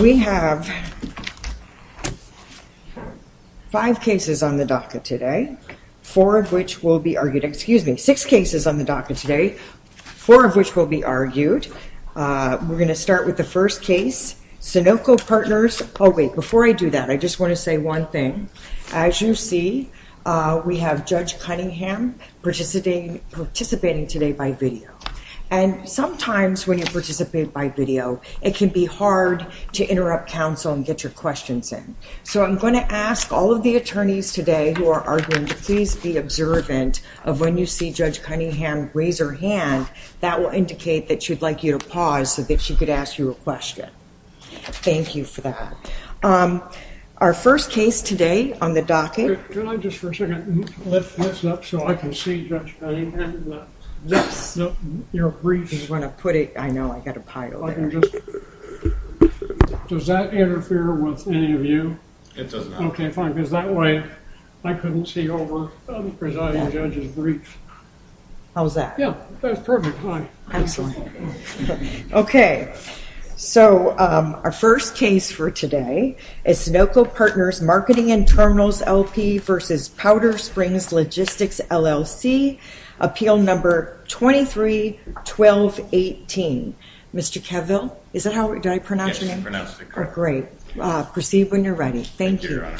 We have five cases on the docket today, four of which will be argued, excuse me, six cases on the docket today, four of which will be argued. We're going to start with the first case, Sunoco Partners. Oh wait, before I do that, I just want to say one thing. As you see, we have Judge Cunningham participating today by video. And sometimes when you participate by video, it can be hard to interrupt counsel and get your questions in. So I'm going to ask all of the attorneys today who are arguing to please be observant of when you see Judge Cunningham raise her hand. That will indicate that she'd like you to pause so that she could ask you a question. Thank you for that. Our first case today on the docket. Can I just for a second lift this up so I can see Judge Cunningham and your brief? Does that interfere with any of you? It does not. Okay, fine. Because that way, I couldn't see over the presiding judge's brief. How's that? Yeah, that's perfect. Hi. Excellent. Okay. So our first case for today is Sunoco Partners Marketing and Terminals LP versus Powder Springs Logistics LLC, appeal number 23-1218. Mr. Kevville, is that how, did I pronounce it correctly? Great. Proceed when you're ready. Thank you, Your Honor.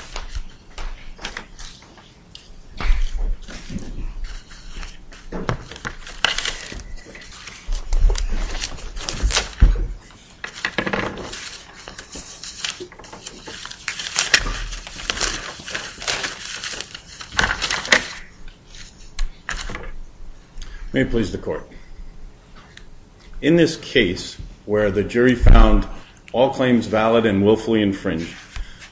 May it please the court. In this case where the jury found all claims valid and willfully infringed,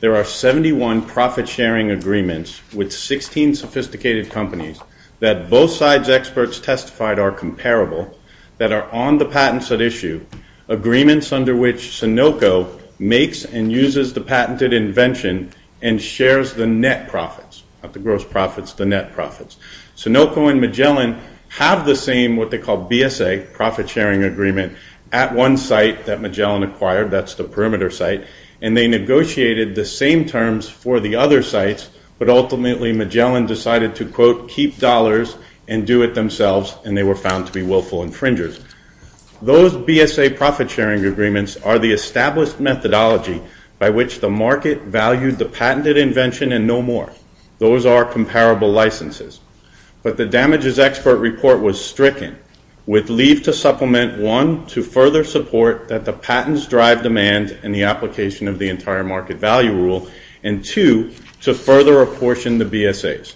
there are 71 profit-sharing agreements with 16 sophisticated companies that both sides' experts testified are comparable that are on the patents at issue, agreements under which Sunoco makes and uses the patented invention and shares the net profits, not the gross profits, the net profits. Sunoco and Magellan have the same, what they call BSA, profit-sharing agreement at one site that Magellan acquired, that's the perimeter site, and they negotiated the same terms for the other sites, but ultimately Magellan decided to, quote, keep dollars and do it themselves, and they were found to be willful infringers. Those BSA profit-sharing agreements are the established methodology by which the market valued the patented invention and no more. Those are comparable licenses. But the damages expert report was stricken with leave to supplement one to further support that the patents drive demand and the application of the entire market value rule, and two, to further apportion the BSAs.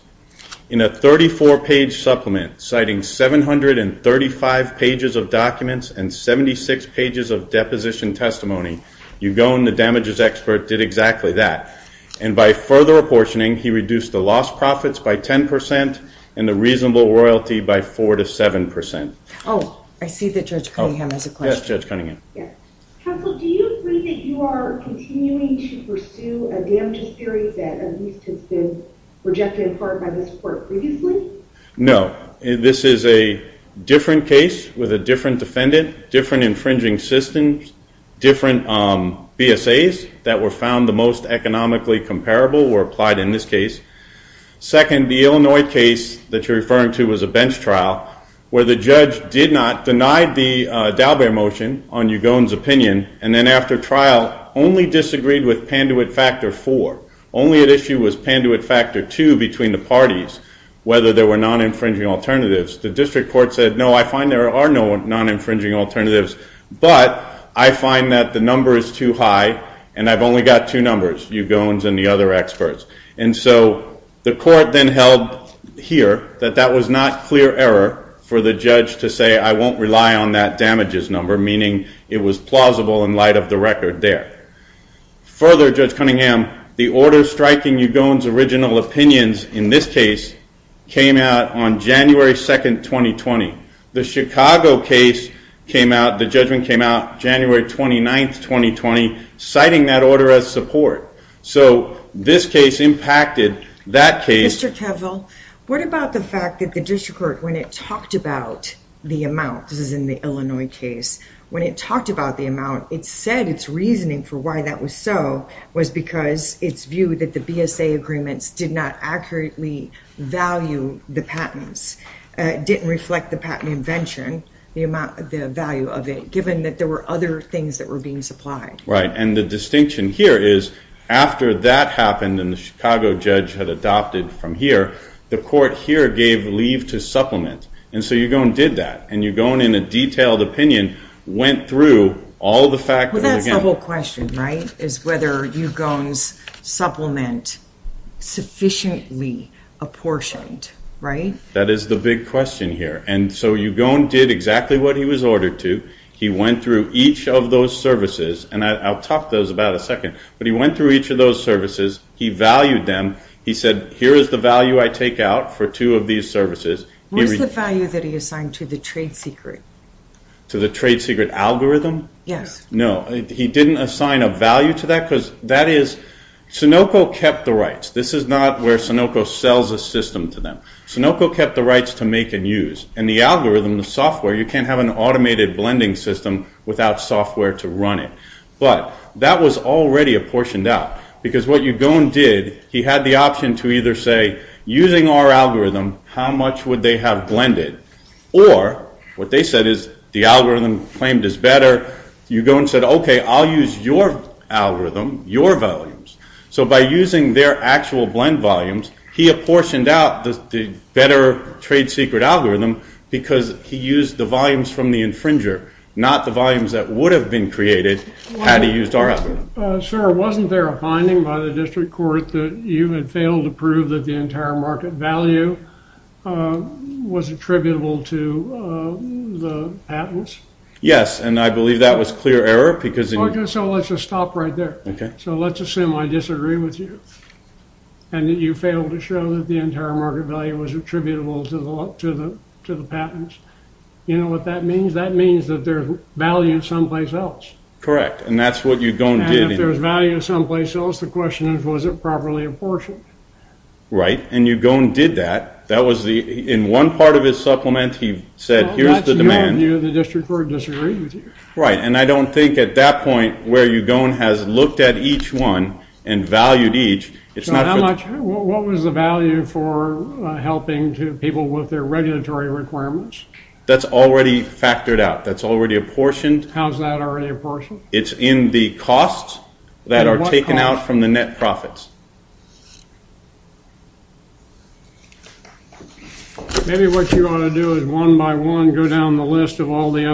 In a 34-page supplement, citing 735 pages of documents and 76 pages of deposition testimony, Ugon, the damages expert, did exactly that. And by further apportioning, he reduced the lost profits by 10% and the reasonable royalty by 4 to 7%. Oh, I see that Judge Cunningham has a question. Yes, Judge Cunningham. Counsel, do you agree that you are continuing to pursue a damages theory that at least has been rejected in part by this court previously? No. This is a different case with a different defendant, different infringing systems, different BSAs that were found the most economically comparable were applied in this case. Second, the Illinois case that you're on, Ugon's opinion, and then after trial, only disagreed with Panduit Factor 4. Only at issue was Panduit Factor 2 between the parties, whether there were non-infringing alternatives. The district court said, no, I find there are no non-infringing alternatives, but I find that the number is too high and I've only got two numbers, Ugon's and the other experts. And so the court then held here that that was not clear error for the judge to say, I won't rely on that damages number, meaning it was plausible in light of the record there. Further, Judge Cunningham, the order striking Ugon's original opinions in this case came out on January 2nd, 2020. The Chicago case came out, the judgment came out January 29th, 2020, citing that order as support. So this case impacted that case. Mr. Keville, what about the fact that the district court, when it talked about the amount, this is in the Illinois case, when it talked about the amount, it said its reasoning for why that was so was because its view that the BSA agreements did not accurately value the patents, didn't reflect the patent invention, the value of it, given that there were other things that were being supplied. Right, and the distinction here is after that happened and the Chicago judge had adopted from here, the court here gave leave to supplement. And so Ugon did that, and Ugon, in a detailed opinion, went through all the factors. Well, that's the whole question, right, is whether Ugon's supplement sufficiently apportioned, right? That is the big question here. And so Ugon did exactly what he was ordered to. He went through each of those services, and I'll talk to those in about a second, but he went through each of those services, he valued them, he said, here is the value I take out for two of these services. What is the value that he assigned to the trade secret? To the trade secret algorithm? Yes. No, he didn't assign a value to that, because that is, Sunoco kept the rights. This is not where Sunoco sells a system to them. Sunoco kept the rights to make and use, and the algorithm, the software, you can't have an automated blending system without software to run it. But that was already apportioned out, because what Ugon did, he had the option to either say, using our algorithm, how much would they have blended? Or, what they said is, the algorithm claimed is better. Ugon said, okay, I'll use your algorithm, your volumes. So by using their actual blend volumes, he apportioned out the better trade secret algorithm, because he used the volumes from the infringer, not the volumes that would have been created, had he used our algorithm. Sir, wasn't there a finding by the district court that you had failed to prove that the entire market value was attributable to the patents? Yes, and I believe that was clear error, because... Okay, so let's just stop right there. Okay. So let's assume I disagree with you, and that you failed to show that the entire market value was attributable to the patents. You know what that means? That means that there's value someplace else. Correct, and that's what Ugon did. And if there's value someplace else, the question is, was it properly apportioned? Right, and Ugon did that. That was the, in one part of his supplement, he said, here's the demand. The district court disagreed with you. Right, and I don't think at that point, where Ugon has looked at each one and valued each, it's not... How much, what was the value for helping people with their regulatory requirements? That's already factored out. That's already apportioned. How's that already apportioned? It's in the costs that are taken out from the net profits. Maybe what you ought to do is, one by one, go down the list of all the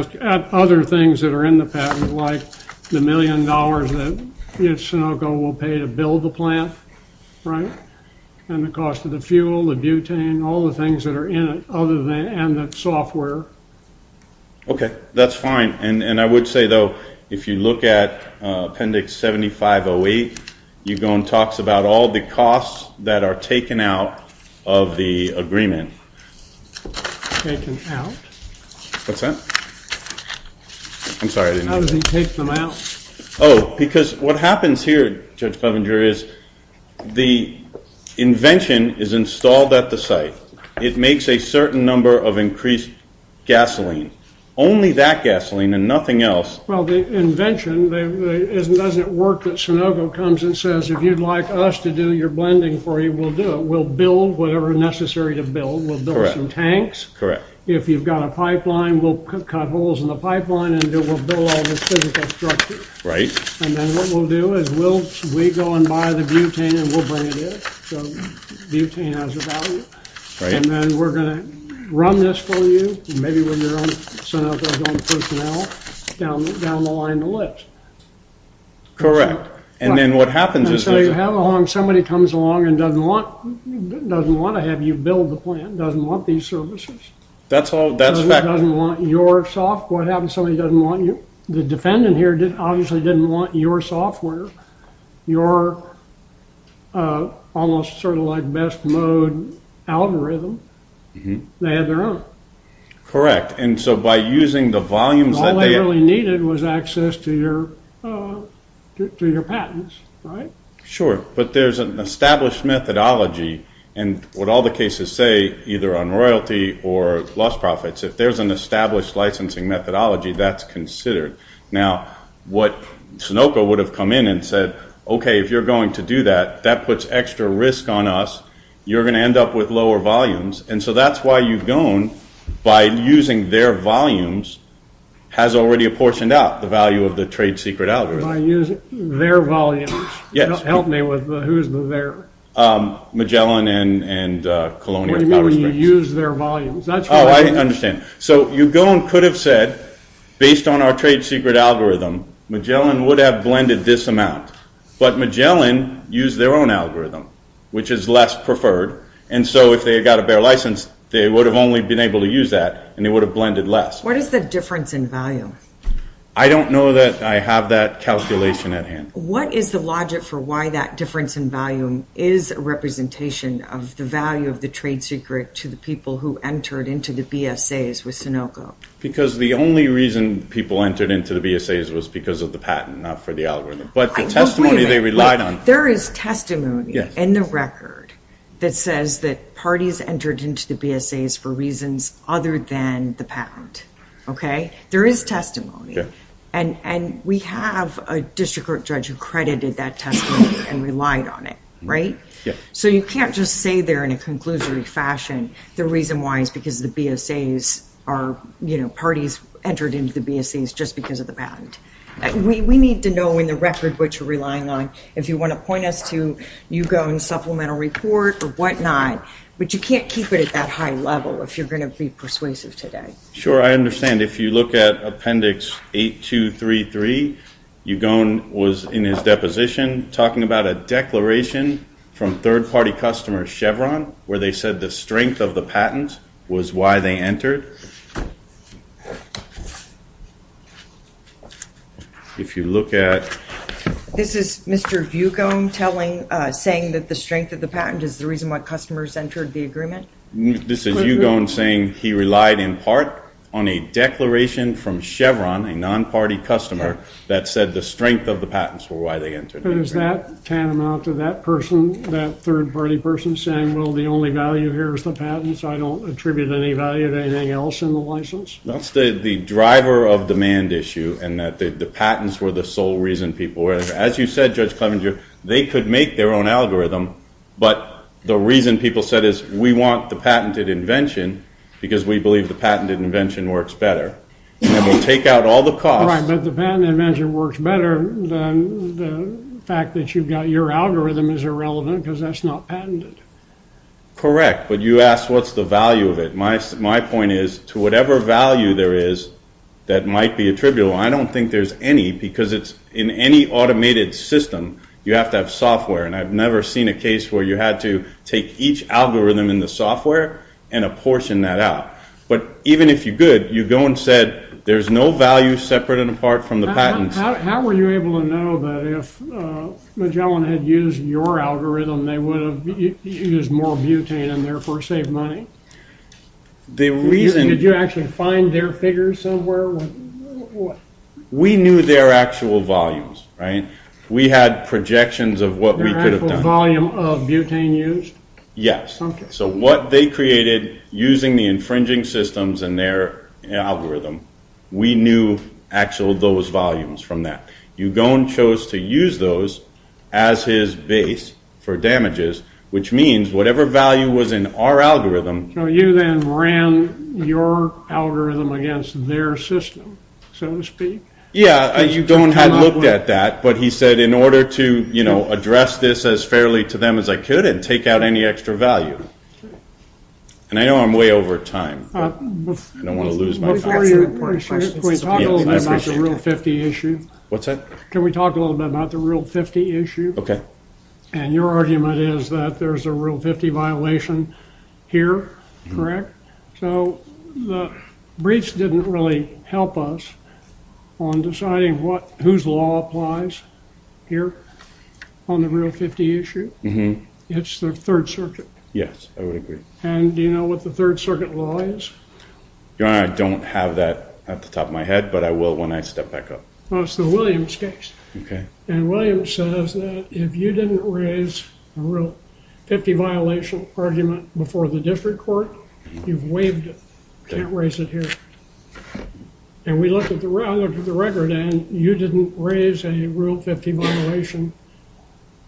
other things that are in the patent, like the million dollars that each Sunoco will pay to build the plant, right, and the cost of the fuel, the butane, all the things that are in it, other than, and the software. Okay, that's fine, and I would say, though, if you look at appendix 7508, Ugon talks about all the costs that are taken out of the agreement. Taken out? What's that? I'm sorry, I didn't... How does he take them out? Oh, because what happens here, Judge Covinger, is the invention is installed at the site. It makes a certain number of increased gasoline. Only that gasoline and nothing else... Well, the invention, it doesn't work that Sunoco comes and says, if you'd like us to do your blending for you, we'll do it. We'll build whatever is necessary to build. We'll build some tanks. Correct. If you've got a pipeline, we'll cut holes in the pipeline, and we'll build all this physical structure. Right. And then what we'll do is, we'll go and buy the butane, and we'll bring it in. So, butane has a value. Right. And then we're going to run this for you, and maybe with your own Sunoco's own personnel, down the line of the list. Correct. And then what happens is... Somebody comes along and doesn't want to have you build the plant, doesn't want these services. That's all, that's fact. Doesn't want your software. What happens if somebody doesn't want you? The defendant here obviously didn't want your software, your almost sort of like best mode algorithm. They had their own. Correct. And so, by using the volumes that they... All they really was access to your patents. Right. Sure. But there's an established methodology, and what all the cases say, either on royalty or lost profits, if there's an established licensing methodology, that's considered. Now, what Sunoco would have come in and said, okay, if you're going to do that, that puts extra risk on us. You're going to end up with lower volumes. And so, that's why you've gone by using their volumes, has already apportioned out the value of the trade secret algorithm. By using their volumes. Yes. Help me with the, who's the there? Magellan and Colonial. What do you mean when you use their volumes? Oh, I understand. So, you go and could have said, based on our trade secret algorithm, Magellan would have blended this amount, but Magellan used their own algorithm, which is less preferred. And so, if they had got a better license, they would have only been able to use that, and they would have blended less. What is the difference in volume? I don't know that I have that calculation at hand. What is the logic for why that difference in volume is a representation of the value of the trade secret to the people who entered into the BSAs with Sunoco? Because the only reason people entered into the BSAs was because of the patent, not for the algorithm. But the testimony they relied on... There is testimony in the record that says that parties entered into the BSAs for reasons other than the patent. Okay? There is testimony. And we have a district court judge who credited that testimony and relied on it. Right? Yeah. So, you can't just say there in a conclusory fashion, the reason why is because the BSAs are parties entered into the BSAs just because of the patent. We need to know in the report or whatnot. But you can't keep it at that high level if you're going to be persuasive today. Sure. I understand. If you look at Appendix 8233, Ugone was in his deposition talking about a declaration from third-party customer Chevron where they said the strength of the patent was why they entered. If you look at... This is Mr. Ugone saying that the strength of the patent is the reason why customers entered the agreement? This is Ugone saying he relied in part on a declaration from Chevron, a non-party customer, that said the strength of the patents were why they entered. But is that tantamount to that person, that third-party person, saying, well, the only value here is the patent, so I don't attribute any value to anything else in the license? That's the driver of demand issue, and that the patents were the sole reason people were there. As you said, Judge Clevenger, they could make their own algorithm, but the reason people said is, we want the patented invention because we believe the patented invention works better, and we'll take out all the costs. Right, but the patented invention works better than the fact that you've got your algorithm is irrelevant because that's not patented. Correct, but you asked what's the value of it. My point is, to whatever value there is that might be attributable, I don't think there's any because it's in any automated system, you have to have software, and I've never seen a case where you had to take each algorithm in the software and apportion that out. But even if you could, Ugone said there's no value separate and apart from the patents. How were you able to know that if Magellan had used your algorithm, they would use more butane and therefore save money? Did you actually find their figures somewhere? We knew their actual volumes, right? We had projections of what we could have done. Volume of butane used? Yes, so what they created using the infringing systems and their algorithm, we knew actual those volumes from that. Ugone chose to use those as his base for damages, which means whatever value was in our algorithm. So you then ran your algorithm against their system, so to speak? Yeah, Ugone had looked at that, but he said in order to address this as fairly to them as I could and take out any extra value, and I know I'm way over time, I don't want to lose my time. Before you, can we talk a little bit about the Rule 50 issue? What's that? Can we talk a little bit about the Rule 50 issue? Okay. And your argument is that there's a Rule 50 violation here, correct? So the briefs didn't really help us on deciding whose law applies here on the Rule 50 issue. It's the Third Circuit. Yes, I would agree. And do you know what the Third Circuit law is? I don't have that at the top of my head, but I will when I step back up. Well, it's the Williams case. Okay. And Williams says that if you didn't raise a Rule 50 violation argument before the district court, you've waived it. Can't raise it here. And we looked at the record, and you didn't raise a Rule 50 violation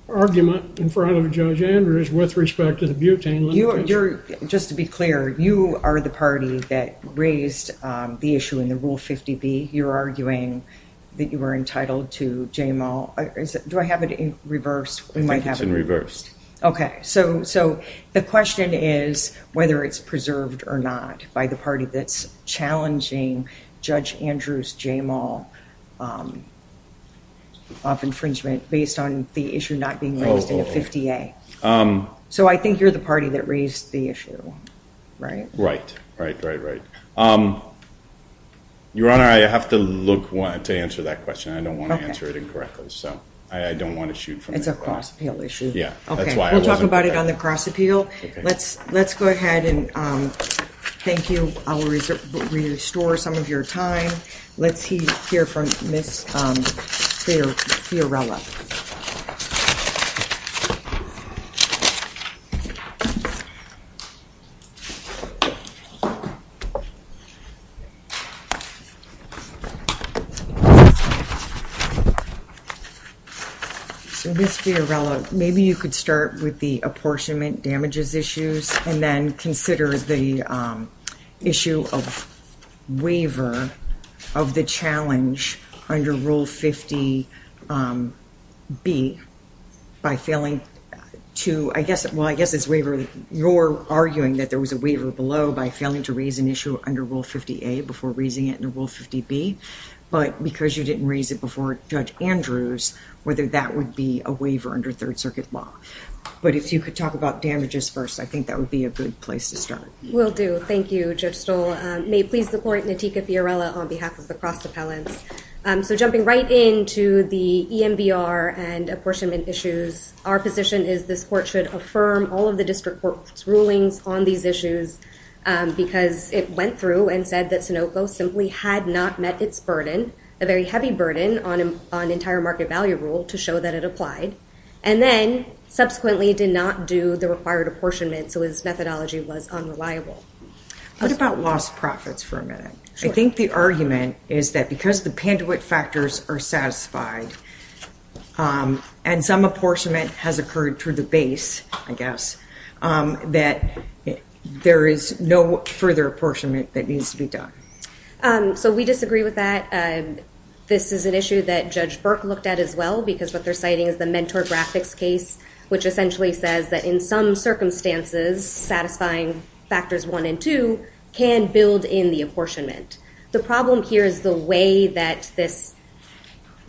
argument in front of Judge Andrews with respect to the butane limitation. Just to be clear, you are the party that raised the issue in the Rule 50B. You're arguing that you were entitled to JMAL. Do I have it in reverse? I think it's in reverse. Okay. So the question is whether it's preserved or not by the party that's challenging Judge Andrews' JMAL of infringement based on the issue not being raised in the 50A. So I think you're the party that raised the issue, right? Right, right, right, right. Your Honor, I have to look to answer that question. I don't want to answer it incorrectly, so I don't want to shoot from the air. It's a cross-appeal issue. Yeah. Okay. We'll talk about it on the cross-appeal. Let's go ahead and thank you. I'll restore some of your time. Let's hear from Ms. Fiorella. So Ms. Fiorella, maybe you could start with the apportionment damages issues and then consider the issue of waiver of the challenge under Rule 50B by failing to – well, I guess it's waiver – you're arguing that there was a waiver below by failing to raise an issue under Rule 50A before raising it in Rule 50B, but because you didn't raise it before Judge Andrews, whether that would be a waiver under Third Circuit law. But if you could talk about damages first, I think that would be a good place to start. Will do. Thank you, Judge Stoll. May it please the Court, Natika Fiorella on behalf of the cross-appellants. So jumping right into the EMBR and apportionment issues, our position is this Court should affirm all of the District Court's rulings on these issues because it went through and said that Sunoco simply had not met its burden, a very heavy burden on entire market value rule, to show that it applied, and then subsequently did not do the required apportionment, so its methodology was unreliable. What about lost profits for a minute? I think the argument is that because the Panduit factors are satisfied and some apportionment has occurred to the base, I guess, that there is no further apportionment that needs to be done. So we disagree with that. This is an issue that Judge Burke looked at as well because what they're looking at is the inventory graphics case, which essentially says that in some circumstances, satisfying factors one and two can build in the apportionment. The problem here is the way that this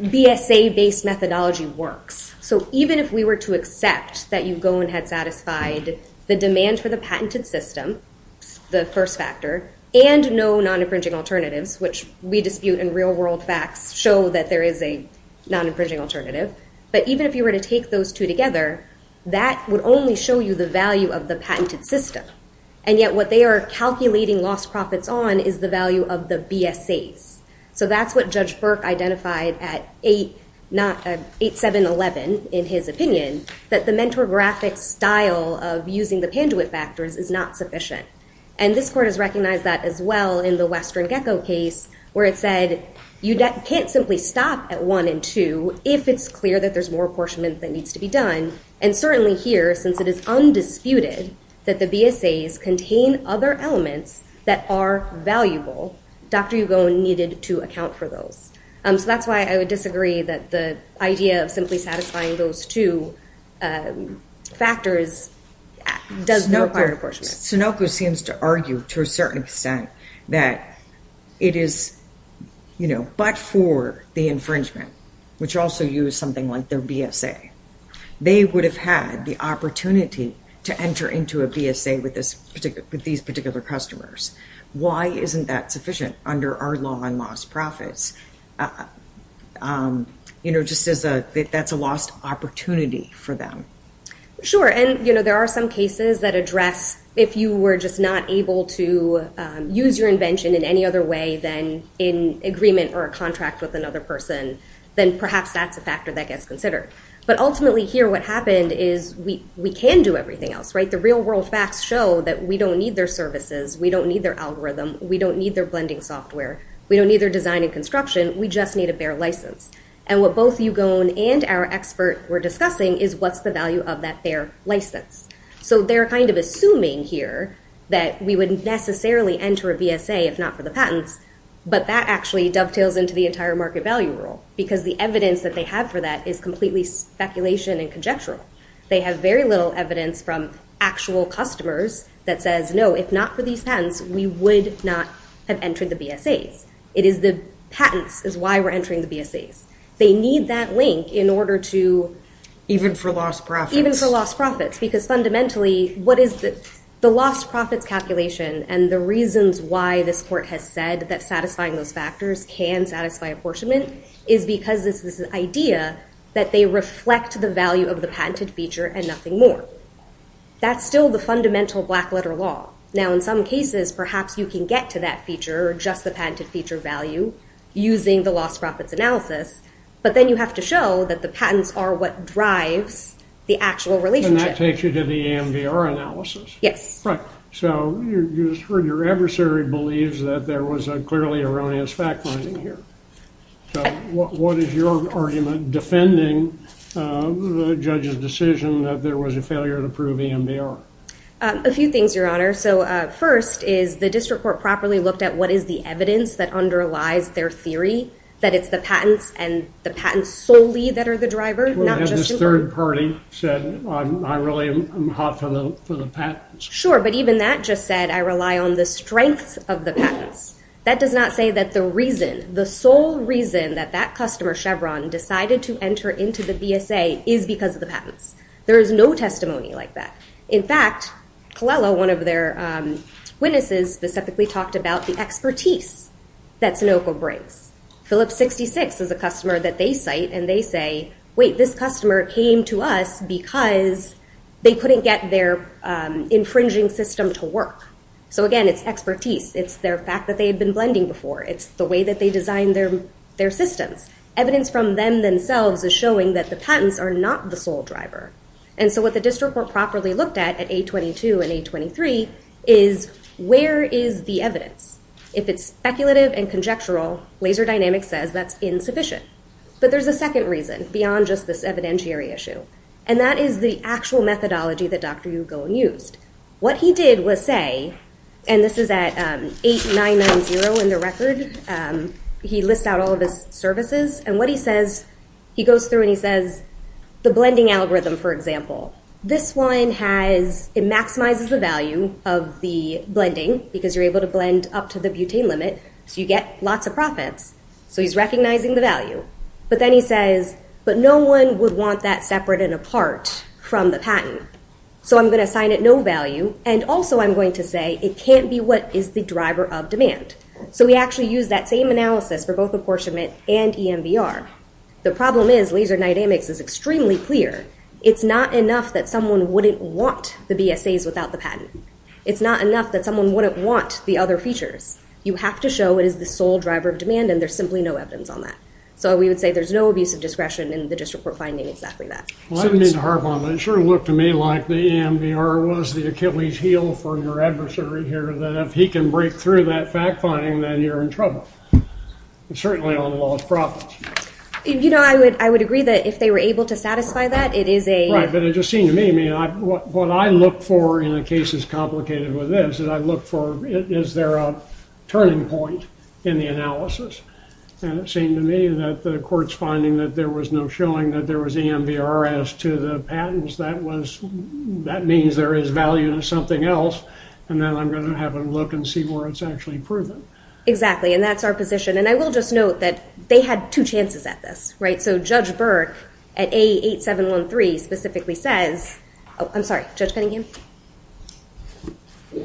BSA-based methodology works. So even if we were to accept that you go and had satisfied the demand for the patented system, the first factor, and no non-infringing alternatives, which we dispute in real world facts show that there is a non-infringing alternative, but even if you were to take those two together, that would only show you the value of the patented system. And yet what they are calculating lost profits on is the value of the BSAs. So that's what Judge Burke identified at 8711 in his opinion, that the mentor graphic style of using the Panduit factors is not sufficient. And this court has recognized that as well in the Western Gecko case, where it said, you can't simply stop at one and two, if it's clear that there's more apportionment that needs to be done. And certainly here, since it is undisputed that the BSAs contain other elements that are valuable, Dr. Yugo needed to account for those. So that's why I would disagree that the idea of simply satisfying those two factors does not require Sunoco seems to argue to a certain extent that it is, you know, but for the infringement, which also use something like their BSA, they would have had the opportunity to enter into a BSA with this particular, with these particular customers. Why isn't that sufficient under our law on lost profits? You know, just as a, that's a lost opportunity for them. Sure. And, you know, there are some cases that address, if you were just not able to use your invention in any other way than in agreement or a contract with another person, then perhaps that's a factor that gets considered. But ultimately here, what happened is we can do everything else, right? The real world facts show that we don't need their services. We don't need their algorithm. We don't need their blending software. We don't need their design and construction. We just need their license. And what both Eugone and our expert were discussing is what's the value of that their license. So they're kind of assuming here that we wouldn't necessarily enter a BSA if not for the patents, but that actually dovetails into the entire market value rule because the evidence that they have for that is completely speculation and conjectural. They have very little evidence from actual customers that says, no, if not for these patents, we would not have entered the BSAs. It is the patents is why we're entering the BSAs. They need that link in order to... Even for lost profits. Even for lost profits, because fundamentally, what is the lost profits calculation and the reasons why this court has said that satisfying those factors can satisfy apportionment is because this is an idea that they reflect the value of the patented feature and nothing more. That's still the fundamental black letter law. Now, in some cases, perhaps you can get to that just the patented feature value using the lost profits analysis, but then you have to show that the patents are what drives the actual relationship. And that takes you to the EMVR analysis. Yes. Right. So you just heard your adversary believes that there was a clearly erroneous fact finding here. So what is your argument defending the judge's decision that there was a failure to prove EMVR? A few things, Your Honor. So first is the district court properly looked at what is the evidence that underlies their theory, that it's the patents and the patents solely that are the driver, not just... And this third party said, I really am hot for the patents. Sure. But even that just said, I rely on the strengths of the patents. That does not say that the reason, the sole reason that that customer, Chevron, decided to enter into the BSA is because of the patents. There is no testimony like that. In fact, Colella, one of their witnesses specifically talked about the expertise that Sunoco brings. Phillips 66 is a customer that they cite and they say, wait, this customer came to us because they couldn't get their infringing system to work. So again, it's expertise. It's their fact that they had been blending before. It's the way that they designed their systems. Evidence from them themselves is showing that the patents are not the sole driver. And so what the district court properly looked at at 822 and 823 is where is the evidence? If it's speculative and conjectural, laser dynamics says that's insufficient. But there's a second reason beyond just this evidentiary issue. And that is the actual methodology that Dr. Hugo used. What he did was say, and this is at 8-9-9-0 in the record. He lists out all of his services and what he says, he goes through and he says, the blending algorithm, for example, this one has, it maximizes the value of the blending because you're able to blend up to the butane limit. So you get lots of profits. So he's recognizing the value. But then he says, but no one would want that separate and apart from the patent. So I'm going to assign it no value. And also I'm going to say, it can't be what is the driver of demand. So we actually use that same analysis for both apportionment and EMDR. The problem is laser dynamics is extremely clear. It's not enough that someone wouldn't want the BSAs without the patent. It's not enough that someone wouldn't want the other features. You have to show it is the sole driver of demand. And there's simply no evidence on that. So we would say there's no abuse of discretion in the district court finding exactly that. Well, I didn't mean to harp on that. It sure looked to me like the EMDR was the Achilles heel for your adversary here. If he can break through that fact finding, then you're in trouble, certainly on the law of profit. I would agree that if they were able to satisfy that, it is a- Right. But it just seemed to me, what I look for in a case as complicated with this, is I look for, is there a turning point in the analysis? And it seemed to me that the court's finding that there was no showing that there was EMDR as to the patents. That means there is value to something else. And then I'm going to have a look and see where it's actually proven. And that's our position. And I will just note that they had two chances at this, right? So Judge Burke at A8713 specifically says, oh, I'm sorry, Judge Cunningham?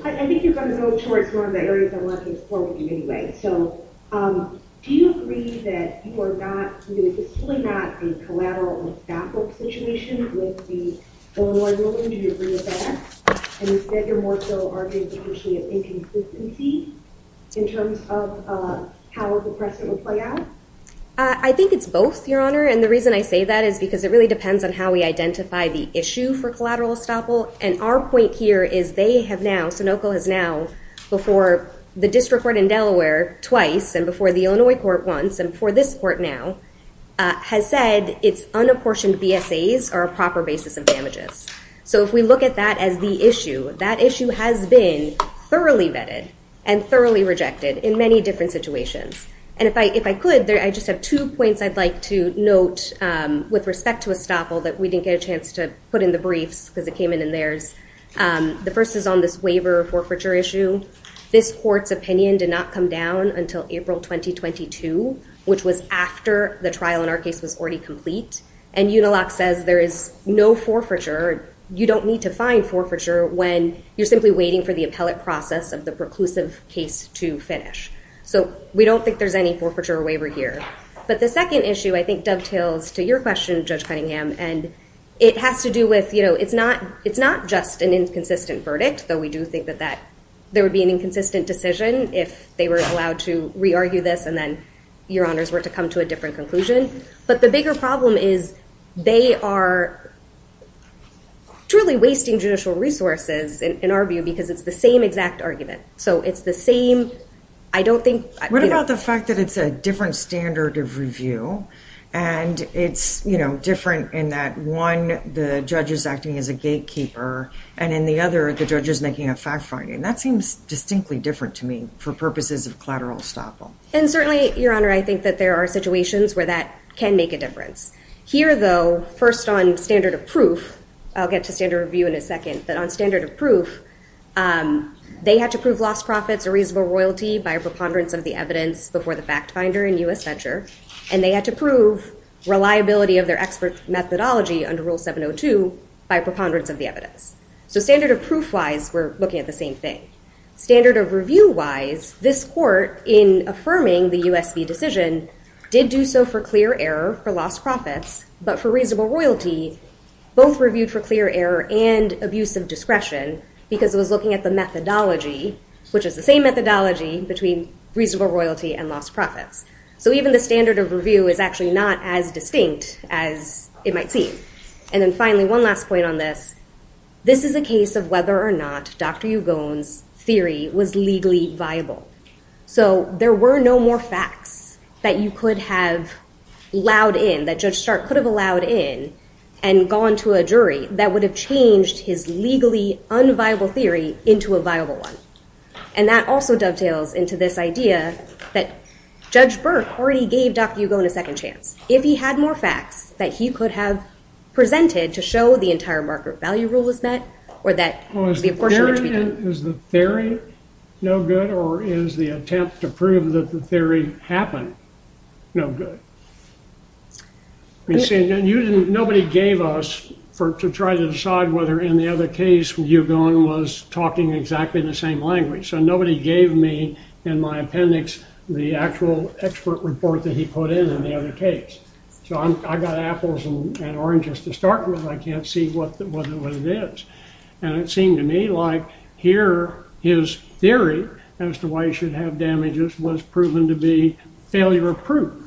I think you're going to go towards one of the areas I want to explore with you anyway. So do you agree that you are not, you know, this is really not a collateral or back up situation with the Illinois ruling? Do you agree with that? And is that you're more so arguing the issue of inconsistency in terms of how the precedent will play out? I think it's both, Your Honor. And the reason I say that is because it really depends on how we identify the issue for collateral estoppel. And our point here is they have now, Sunoco has now, before the district court in Delaware twice, and before the Illinois court once, and before this court now, has said it's unapportioned BSAs are a proper basis of damages. So if we look at that as the issue, that issue has been thoroughly vetted and thoroughly rejected in many different situations. And if I could, I just have two points I'd like to note with respect to estoppel that we didn't get a chance to put in the briefs because it came in in theirs. The first is on this waiver forfeiture issue. This court's opinion did not come down until April 2022, which was after the trial in our case was already complete. And Uniloc says there is no forfeiture, you don't need to find forfeiture when you're simply waiting for the appellate process of the preclusive case to finish. So we don't think there's any forfeiture waiver here. But the second issue, I think, dovetails to your question, Judge Cunningham. And it has to do with, it's not just an inconsistent verdict, though we do think that there would be an inconsistent decision if they were allowed to re-argue this and then, Your Honors, were to come to a different conclusion. But the bigger problem is they are truly wasting judicial resources in our view because it's the same exact argument. So it's the same, I don't think... What about the fact that it's a different standard of review? And it's, you know, different in that one, the judge is acting as a gatekeeper and in the other, the judge is making a fact finding. That seems distinctly different to me for purposes of collateral estoppel. And certainly, Your Honor, I think that there are situations where that can make a difference. Here, though, first on standard of proof, I'll get to standard review in a second, but on standard of proof, they had to prove lost profits or reasonable royalty by a preponderance of the evidence before the fact finder in U.S. Venture. And they had to prove reliability of their expert methodology under Rule 702 by preponderance of the evidence. So standard of proof-wise, we're looking at the same thing. Standard of review-wise, this court, in affirming the U.S.V. decision, did do so for clear error for lost profits, but for reasonable royalty, both reviewed for clear error and abusive discretion because it was looking at the methodology, which is the same methodology between reasonable royalty and lost profits. So even the standard of review is actually not as distinct as it might seem. And then finally, one last point on this. This is a case of whether or not Dr. Hugon's theory was legally viable. So there were no more facts that you could have allowed in, that Judge Stark could have allowed in and gone to a jury that would have changed his legally unviable theory into a viable one. And that also dovetails into this idea that Judge Burke already gave Dr. Hugon a second chance. If he had more facts that he could have presented to show the entire market value rule was met, or that the apportionment would be good. Is the theory no good, or is the attempt to prove that the theory happened no good? Nobody gave us to try to decide whether, in the other case, Hugon was talking exactly the same language. So nobody gave me, in my appendix, the actual expert report that he put in in the other case. So I got apples and oranges to start with. I can't see what it is. And it seemed to me like here, his theory as to why he should have damages was proven to be failure-proof.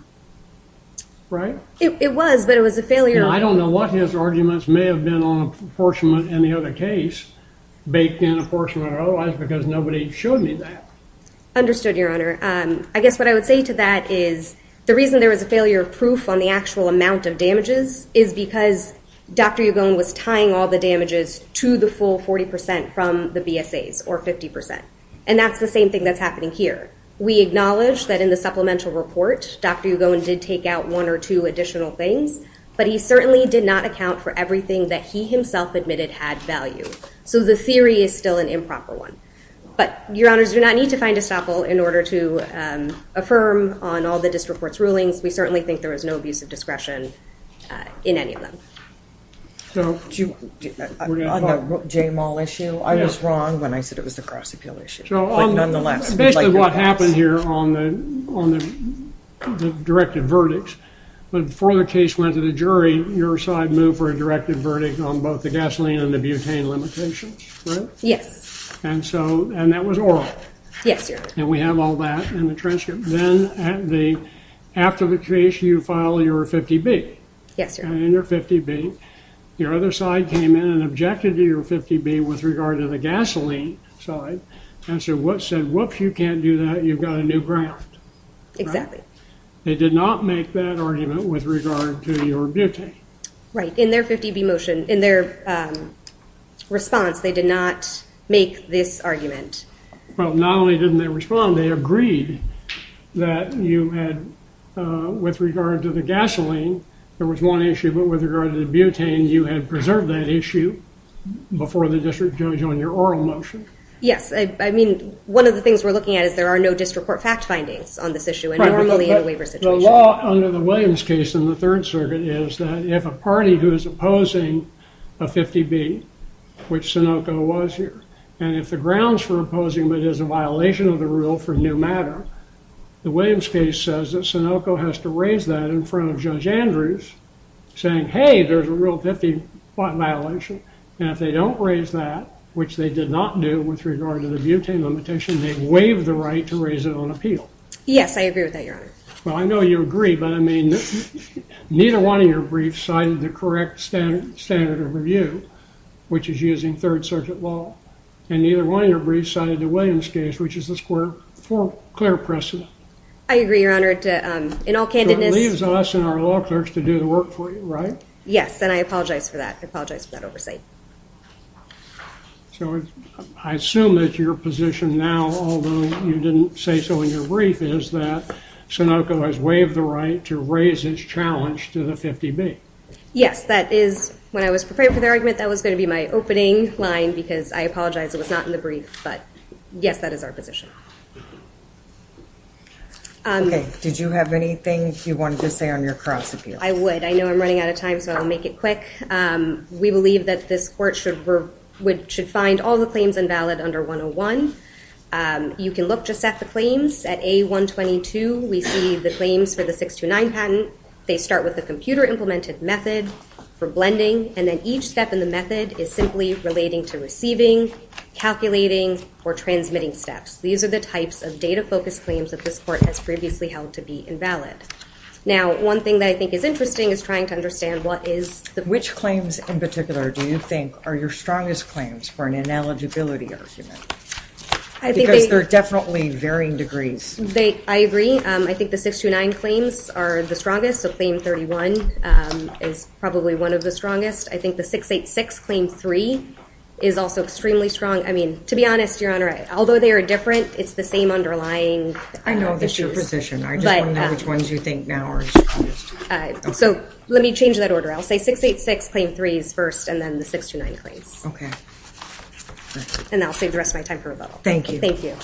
Right? It was, but it was a failure. I don't know what his arguments may have been on apportionment in the other case, baked in apportionment or otherwise, because nobody showed me that. Understood, Your Honor. I guess what I would say to that is, the reason there was a failure of proof on the actual amount of damages is because Dr. Hugon was tying all the damages to the full 40% from the BSAs, or 50%. And that's the same thing that's happening here. We acknowledge that in the supplemental report, Dr. Hugon did take out one or two additional things, but he certainly did not account for everything that he himself admitted had value. So the theory is still an improper one. But, Your Honors, we do not need to find a staple in order to affirm on all the district court's rulings. We certainly think there was no abuse of discretion in any of them. So, on the Jay Mall issue, I was wrong when I said it was a cross-appeal issue. So, basically what happened here on the directed verdicts, but before the case went to the jury, your side moved for a directed verdict on both the gasoline and the butane limitations, right? Yes. And so, and that was oral. Yes, Your Honor. And we have all that in the transcript. Then, after the case, you file your 50B. Yes, Your Honor. In your 50B, your other side came in and objected to your 50B with regard to the gasoline side, and said, whoops, you can't do that, you've got a new grant. Exactly. They did not make that argument with regard to your butane. Right. In their 50B motion, in their response, they did not make this argument. Well, not only didn't they respond, they agreed that you had, with regard to the gasoline, there was one issue, but with regard to the butane, you had preserved that issue before the district judge on your oral motion. Yes. I mean, one of the things we're looking at is there are no district court fact findings on this issue, and normally in a waiver situation. The law under the Williams case in the Third Circuit is that if a party who is opposing a 50B, which Sunoco was here, and if the grounds for opposing it is a violation of the rule for new matter, the Williams case says that Sunoco has to raise that in front of Judge Andrews, saying, hey, there's a rule 50 violation. And if they don't raise that, which they did not do with regard to the butane limitation, they waive the right to raise it on appeal. Yes, I agree with that, Your Honor. Well, I know you agree, but I mean, neither one of your briefs cited the correct standard of review, which is using Third Circuit law. And neither one of your briefs cited the Williams case, which is a square precedent. I agree, Your Honor. In all candidness. So it leaves us and our law clerks to do the work for you, right? Yes, and I apologize for that. I apologize for that oversight. So I assume that your position now, although you didn't say so in your brief, is that Sunoco has waived the right to raise its challenge to the 50B. Yes, that is, when I was preparing for the argument, that was going to be my opening line, because I apologize it was not in the brief. But yes, that is our position. OK, did you have anything you wanted to say on your cross-appeal? I would. I know I'm running out of time, so I'll make it quick. We believe that this court should find all the claims invalid under 101. And you can look just at the claims. At A122, we see the claims for the 629 patent. They start with a computer-implemented method for blending. And then each step in the method is simply relating to receiving, calculating, or transmitting steps. These are the types of data-focused claims that this court has previously held to be invalid. Now, one thing that I think is interesting is trying to understand what is the— Which claims in particular do you think are your strongest claims for an ineligibility argument? Because they're definitely varying degrees. I agree. I think the 629 claims are the strongest. So claim 31 is probably one of the strongest. I think the 686 claim 3 is also extremely strong. I mean, to be honest, Your Honor, although they are different, it's the same underlying issues. I know that's your position. I just want to know which ones you think now are strongest. So let me change that order. I'll say 686 claim 3 is first, and then the 629 claims. OK. And I'll save the rest of my time for rebuttal. Thank you. Thank you.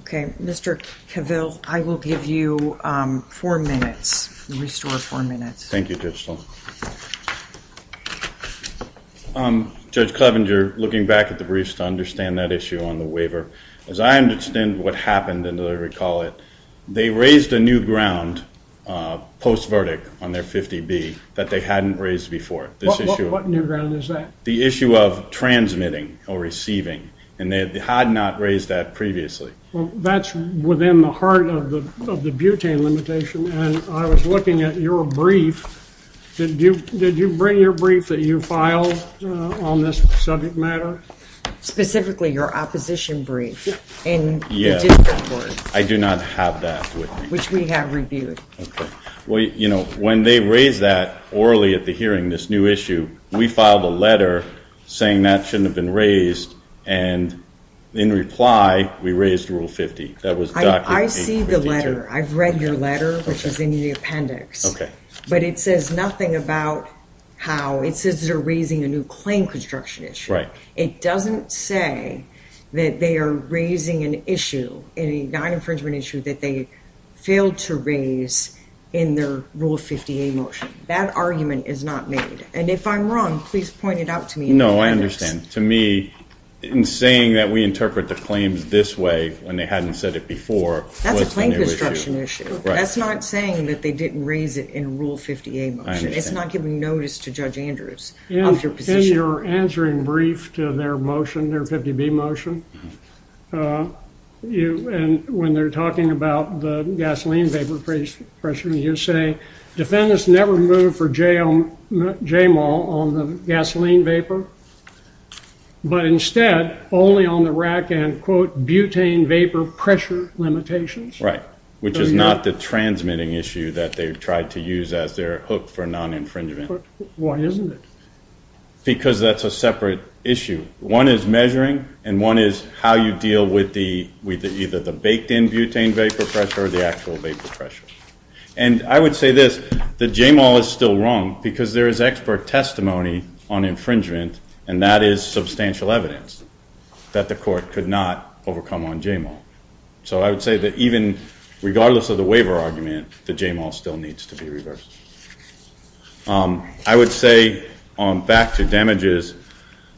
OK. Mr. Cavill, I will give you four minutes. Restore four minutes. Thank you, Judge Sloan. Judge Clevenger, looking back at the briefs to understand that issue on the waiver, as I understand what happened, and I recall it, they raised a new ground post-verdict on their 50B that they hadn't raised before. What new ground is that? The issue of transmitting or receiving. And they had not raised that previously. Well, that's within the heart of the butane limitation. And I was looking at your brief. Did you bring your brief that you filed on this subject matter? Specifically, your opposition brief in the district court. I do not have that with me. Which we have reviewed. OK. When they raised that orally at the hearing, this new issue, we filed a letter saying that shouldn't have been raised. And in reply, we raised Rule 50. That was documented. I see the letter. I've read your letter, which is in the appendix. OK. But it says nothing about how. It says they're raising a new claim construction issue. Right. It doesn't say that they are raising an issue, a non-infringement issue, that they failed to raise in their Rule 50A motion. That argument is not made. And if I'm wrong, please point it out to me in the appendix. No, I understand. To me, in saying that we interpret the claims this way, when they hadn't said it before. That's a claim construction issue. That's not saying that they didn't raise it in Rule 50A motion. It's not giving notice to Judge Andrews of your position. In your answering brief to their motion, their 50B motion, you, and when they're talking about the gasoline vapor pressure, you say, defendants never moved for JMOL on the gasoline vapor, but instead only on the rack and, quote, butane vapor pressure limitations. Right. Which is not the transmitting issue that they've tried to use as their hook for non-infringement. Why isn't it? Because that's a separate issue. One is measuring, and one is how you deal with either the baked-in butane vapor pressure or the actual vapor pressure. And I would say this. The JMOL is still wrong because there is expert testimony on infringement, and that is substantial evidence that the court could not overcome on JMOL. So I would say that even regardless of the waiver argument, the JMOL still needs to be reversed. I would say, back to damages,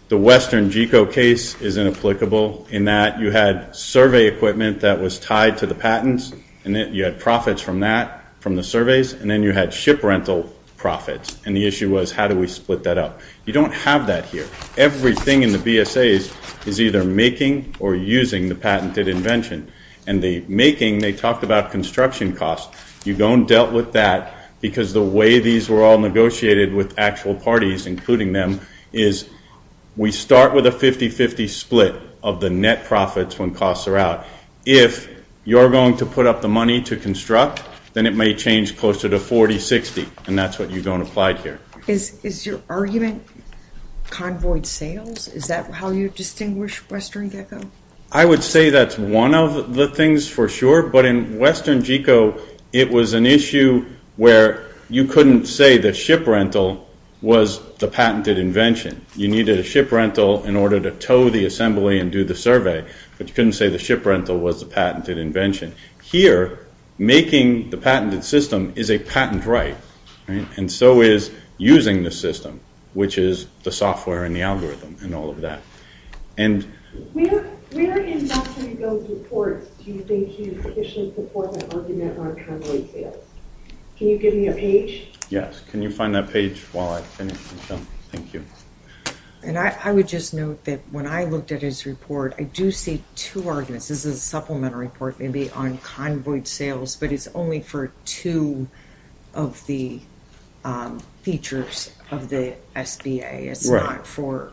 the Western GECO case is inapplicable in that you had survey equipment that was tied to the patents, and then you had profits from that, from the surveys, and then you had ship rental profits. And the issue was, how do we split that up? You don't have that here. Everything in the BSAs is either making or using the patented invention. And the making, they talked about construction costs. You don't deal with that because the way these were all negotiated with actual parties, including them, is we start with a 50-50 split of the net profits when costs are out. If you're going to put up the money to construct, then it may change closer to 40-60, and that's what you don't apply here. Is your argument convoyed sales? Is that how you distinguish Western GECO? I would say that's one of the things for sure. But in Western GECO, it was an issue where you couldn't say the ship rental was the patented invention. You needed a ship rental in order to tow the assembly and do the survey, but you couldn't say the ship rental was the patented invention. Here, making the patented system is a patent right, and so is using the system, which is the software and the algorithm and all of that. And where in Western GECO's reports do you think you sufficiently support the argument on convoyed sales? Can you give me a page? Yes. Can you find that page while I finish, Michelle? Thank you. And I would just note that when I looked at his report, I do see two arguments. This is a supplementary report maybe on convoyed sales, but it's only for two of the features of the SBA. It's not for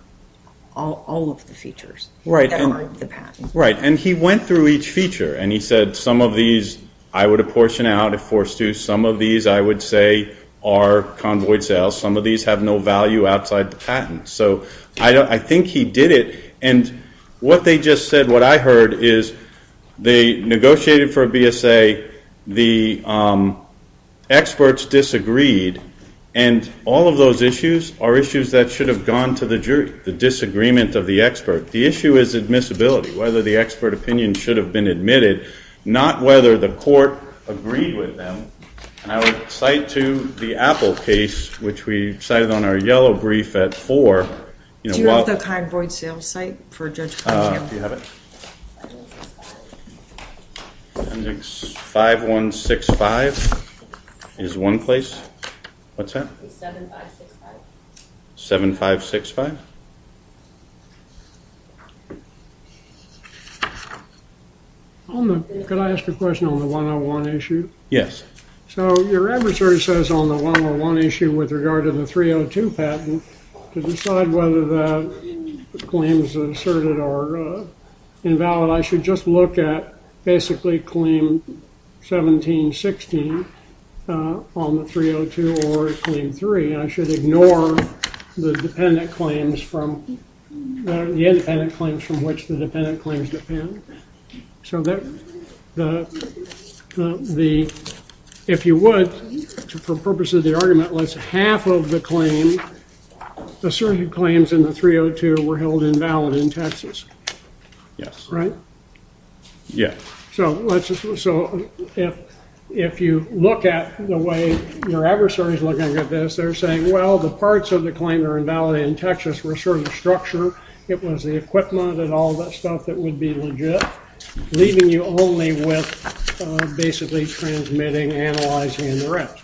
all of the features that are the patent. Right, and he went through each feature, and he said some of these I would apportion out if forced to. Some of these I would say are convoyed sales. Some of these have no value outside the patent. So I think he did it. And what they just said, what I heard, is they negotiated for a BSA. The experts disagreed. And all of those issues are issues that should have gone to the jury, the disagreement of the expert. The issue is admissibility, whether the expert opinion should have been admitted, not whether the court agreed with them. And I would cite to the Apple case, which we cited on our yellow brief at 4. Do you have the convoyed sales site for Judge Pong? Do you have it? I think 5165 is one place. What's that? 7565. Can I ask a question on the 101 issue? Yes. So your adversary says on the 101 issue with regard to the 302 patent, to decide whether the claims asserted are invalid, I should just look at basically claim 1716 on the 302 or claim 3. I should ignore the independent claims from which the dependent claims depend. So if you would, for purposes of the argument, let's half of the claim, claims in the 302 were held invalid in Texas. Yes. Right? Yeah. So if you look at the way your adversary is looking at this, they're saying, well, the parts of the claim are invalid in Texas. We're sort of the structure. It was the equipment and all that stuff that would be legit, leaving you only with basically transmitting, analyzing, and the rest.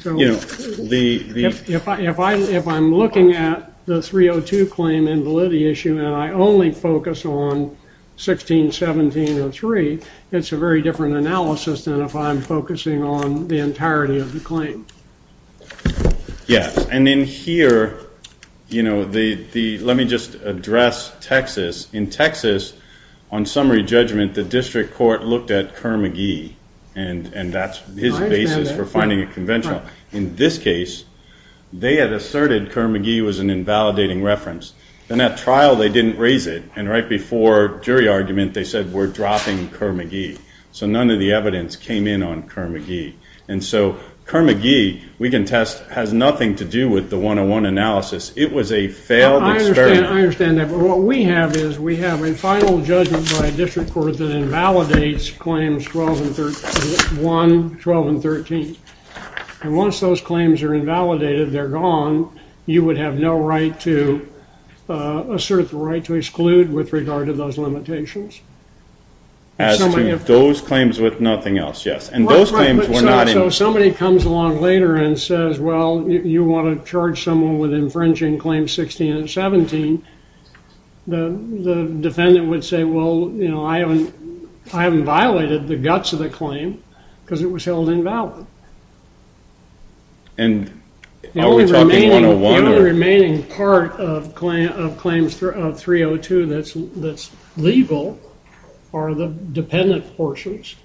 So if I'm looking at the 302 claim invalidity issue and I only focus on 161703, it's a very different analysis than if I'm focusing on the entirety of the claim. Yes. And in here, let me just address Texas. In Texas, on summary judgment, the district court looked at Kerr-McGee, and that's his basis for finding a conventional. In this case, they had asserted Kerr-McGee was an invalidating reference. In that trial, they didn't raise it. And right before jury argument, they said, we're dropping Kerr-McGee. So none of the evidence came in on Kerr-McGee. And so Kerr-McGee, we can test, has nothing to do with the 101 analysis. It was a failed experiment. I understand that. But what we have is we have a final judgment by a district court that invalidates claims 1, 12, and 13. And once those claims are invalidated, they're gone. You would have no right to assert the right to exclude with regard to those limitations. As to those claims with nothing else, yes. And those claims were not in- So if somebody comes along later and says, well, you want to charge someone with infringing claims 16 and 17, the defendant would say, well, you know, I haven't violated the guts of the claim because it was held invalid. And the only remaining part of claims 302 that's legal are the dependent portions.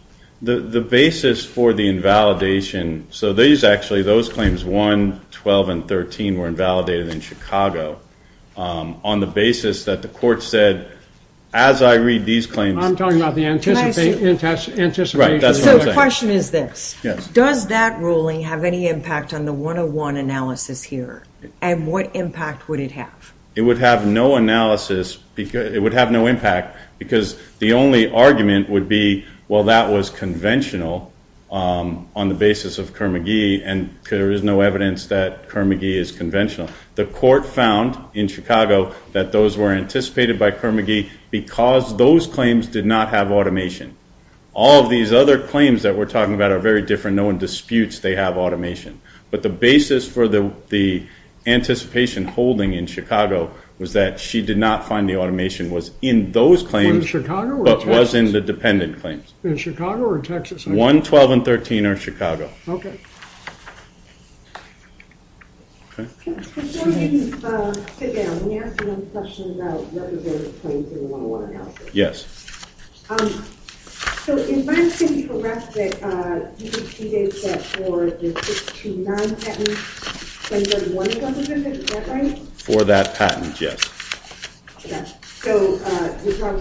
The basis for the invalidation, so these actually, those claims 1, 12, and 13 were invalidated in Chicago on the basis that the court said, as I read these claims- I'm talking about the anticipation- Right, that's what I'm saying. So the question is this. Yes. Does that ruling have any impact on the 101 analysis here? And what impact would it have? It would have no analysis, it would have no impact because the only argument would be, well, that was conventional on the basis of Kerr-McGee. And there is no evidence that Kerr-McGee is conventional. The court found in Chicago that those were anticipated by Kerr-McGee because those claims did not have automation. All of these other claims that we're talking about are very different. No one disputes they have automation. But the basis for the anticipation holding in Chicago was that she did not find the automation was in those claims- In Chicago or Texas? But was in the dependent claims. In Chicago or Texas? 1, 12, and 13 are Chicago. Okay. Yes. For that patent, yes. But there was a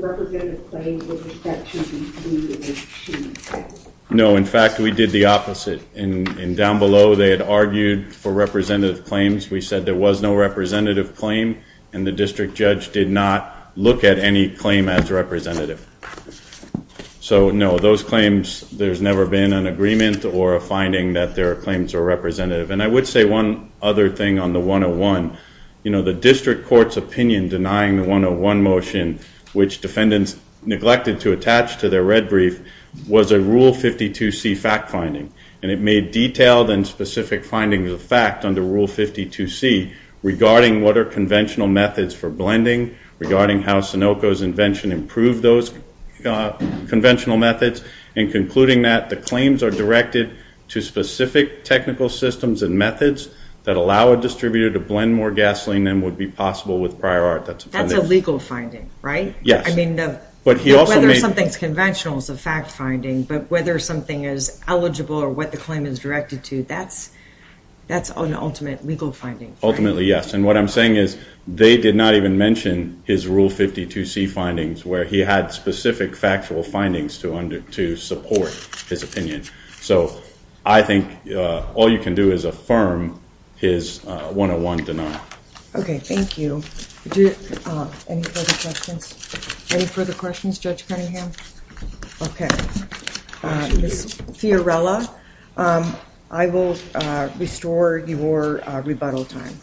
representative claim. No. In fact, we did the opposite. And down below, they had argued for representative claims. We said there was no representative claim. And the district judge did not look at any claim as representative. So no, those claims, there's never been an agreement or a finding that their claims are representative. And I would say one other thing on the 101. The district court's opinion denying the 101 motion, which defendants neglected to attach to their red brief, was a Rule 52C fact finding. And it made detailed and specific findings of fact under Rule 52C regarding what are conventional methods for blending, regarding how Sunoco's invention improved those conventional methods, and concluding that the claims are directed to specific technical systems and methods that allow a distributor to blend more gasoline than would be possible with prior art. That's a legal finding, right? Yes. I mean, whether something's conventional is a fact finding, but whether something is eligible or what the claim is directed to, that's an ultimate legal finding. Ultimately, yes. And what I'm saying is they did not even mention his Rule 52C findings, where he had specific factual findings to support his opinion. So I think all you can do is affirm his 101 denial. OK. Thank you. Any further questions? Any further questions, Judge Cunningham? OK. Fiorella, I will restore your rebuttal time.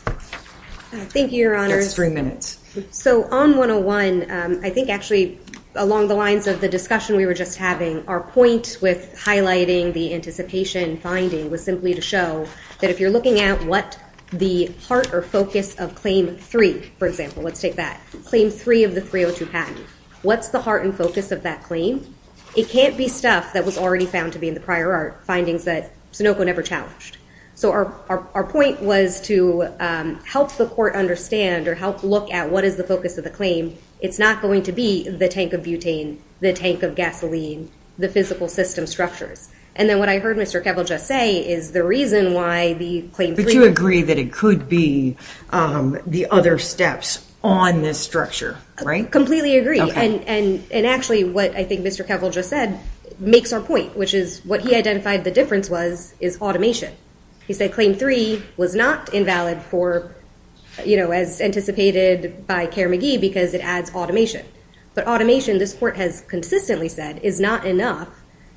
Thank you, Your Honors. That's three minutes. So on 101, I think actually along the lines of the discussion we were just having, our with highlighting the anticipation finding was simply to show that if you're looking at what the heart or focus of Claim 3, for example, let's take that. Claim 3 of the 302 patent, what's the heart and focus of that claim? It can't be stuff that was already found to be in the prior art findings that Sunoco never challenged. So our point was to help the court understand or help look at what is the focus of the claim. It's not going to be the tank of butane, the tank of gasoline, the physical system structures. And then what I heard Mr. Kevel just say is the reason why the Claim 3- But you agree that it could be the other steps on this structure, right? Completely agree. And actually what I think Mr. Kevel just said makes our point, which is what he identified the difference was is automation. He said Claim 3 was not invalid for, you know, as anticipated by Kerr-McGee because it adds automation. But automation, this court has consistently said, is not enough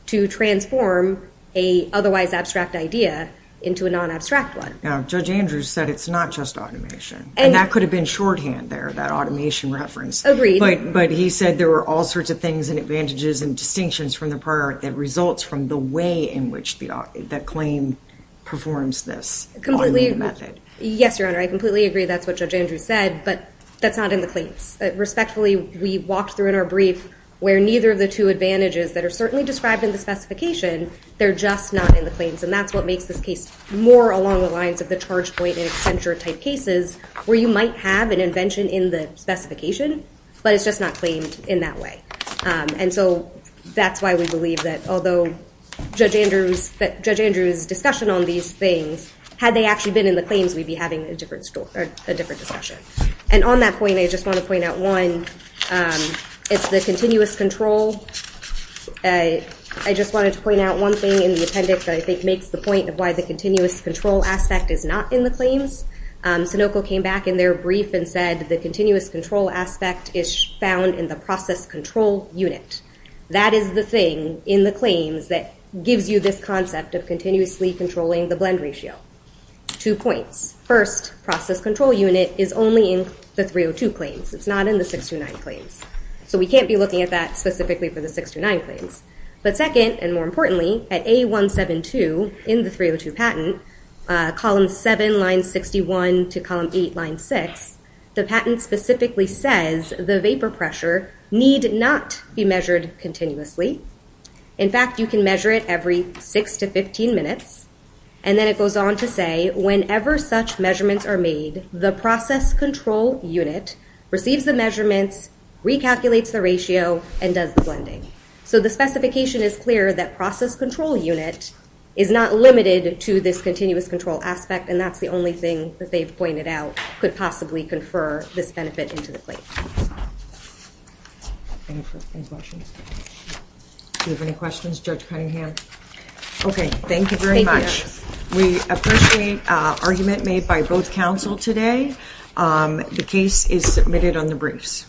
to transform a otherwise abstract idea into a non-abstract one. Now Judge Andrews said it's not just automation and that could have been shorthand there, that automation reference. But he said there were all sorts of things and advantages and distinctions from the prior that results from the way in which the claim performs this automated method. Yes, Your Honor. I completely agree. That's what Judge Andrews said, but that's not in the claims. Respectfully, we walked through in our brief where neither of the two advantages that are certainly described in the specification, they're just not in the claims. And that's what makes this case more along the lines of the charge point in Accenture type cases where you might have an invention in the specification, but it's just not claimed in that way. And so that's why we believe that although Judge Andrews' discussion on these things, had they actually been in the claims, we'd be having a different discussion. And on that point, I just want to point out one. It's the continuous control. I just wanted to point out one thing in the appendix that I think makes the point of why the continuous control aspect is not in the claims. Sinoco came back in their brief and said the continuous control aspect is found in the process control unit. That is the thing in the claims that gives you this concept of continuously controlling the blend ratio. Two points. First, process control unit is only in the 302 claims. It's not in the 629 claims. So we can't be looking at that specifically for the 629 claims. But second, and more importantly, at A172 in the 302 patent, column 7, line 61 to column 8, line 6, the patent specifically says the vapor pressure need not be measured continuously. In fact, you can measure it every 6 to 15 minutes. And then it goes on to say, whenever such measurements are made, the process control unit receives the measurements, recalculates the ratio, and does the blending. So the specification is clear that process control unit is not limited to this continuous control aspect, and that's the only thing that they've pointed out could possibly confer this benefit into the claim. Do you have any questions? Judge Cunningham? Okay. Thank you very much. We appreciate argument made by both counsel today. The case is submitted on the briefs.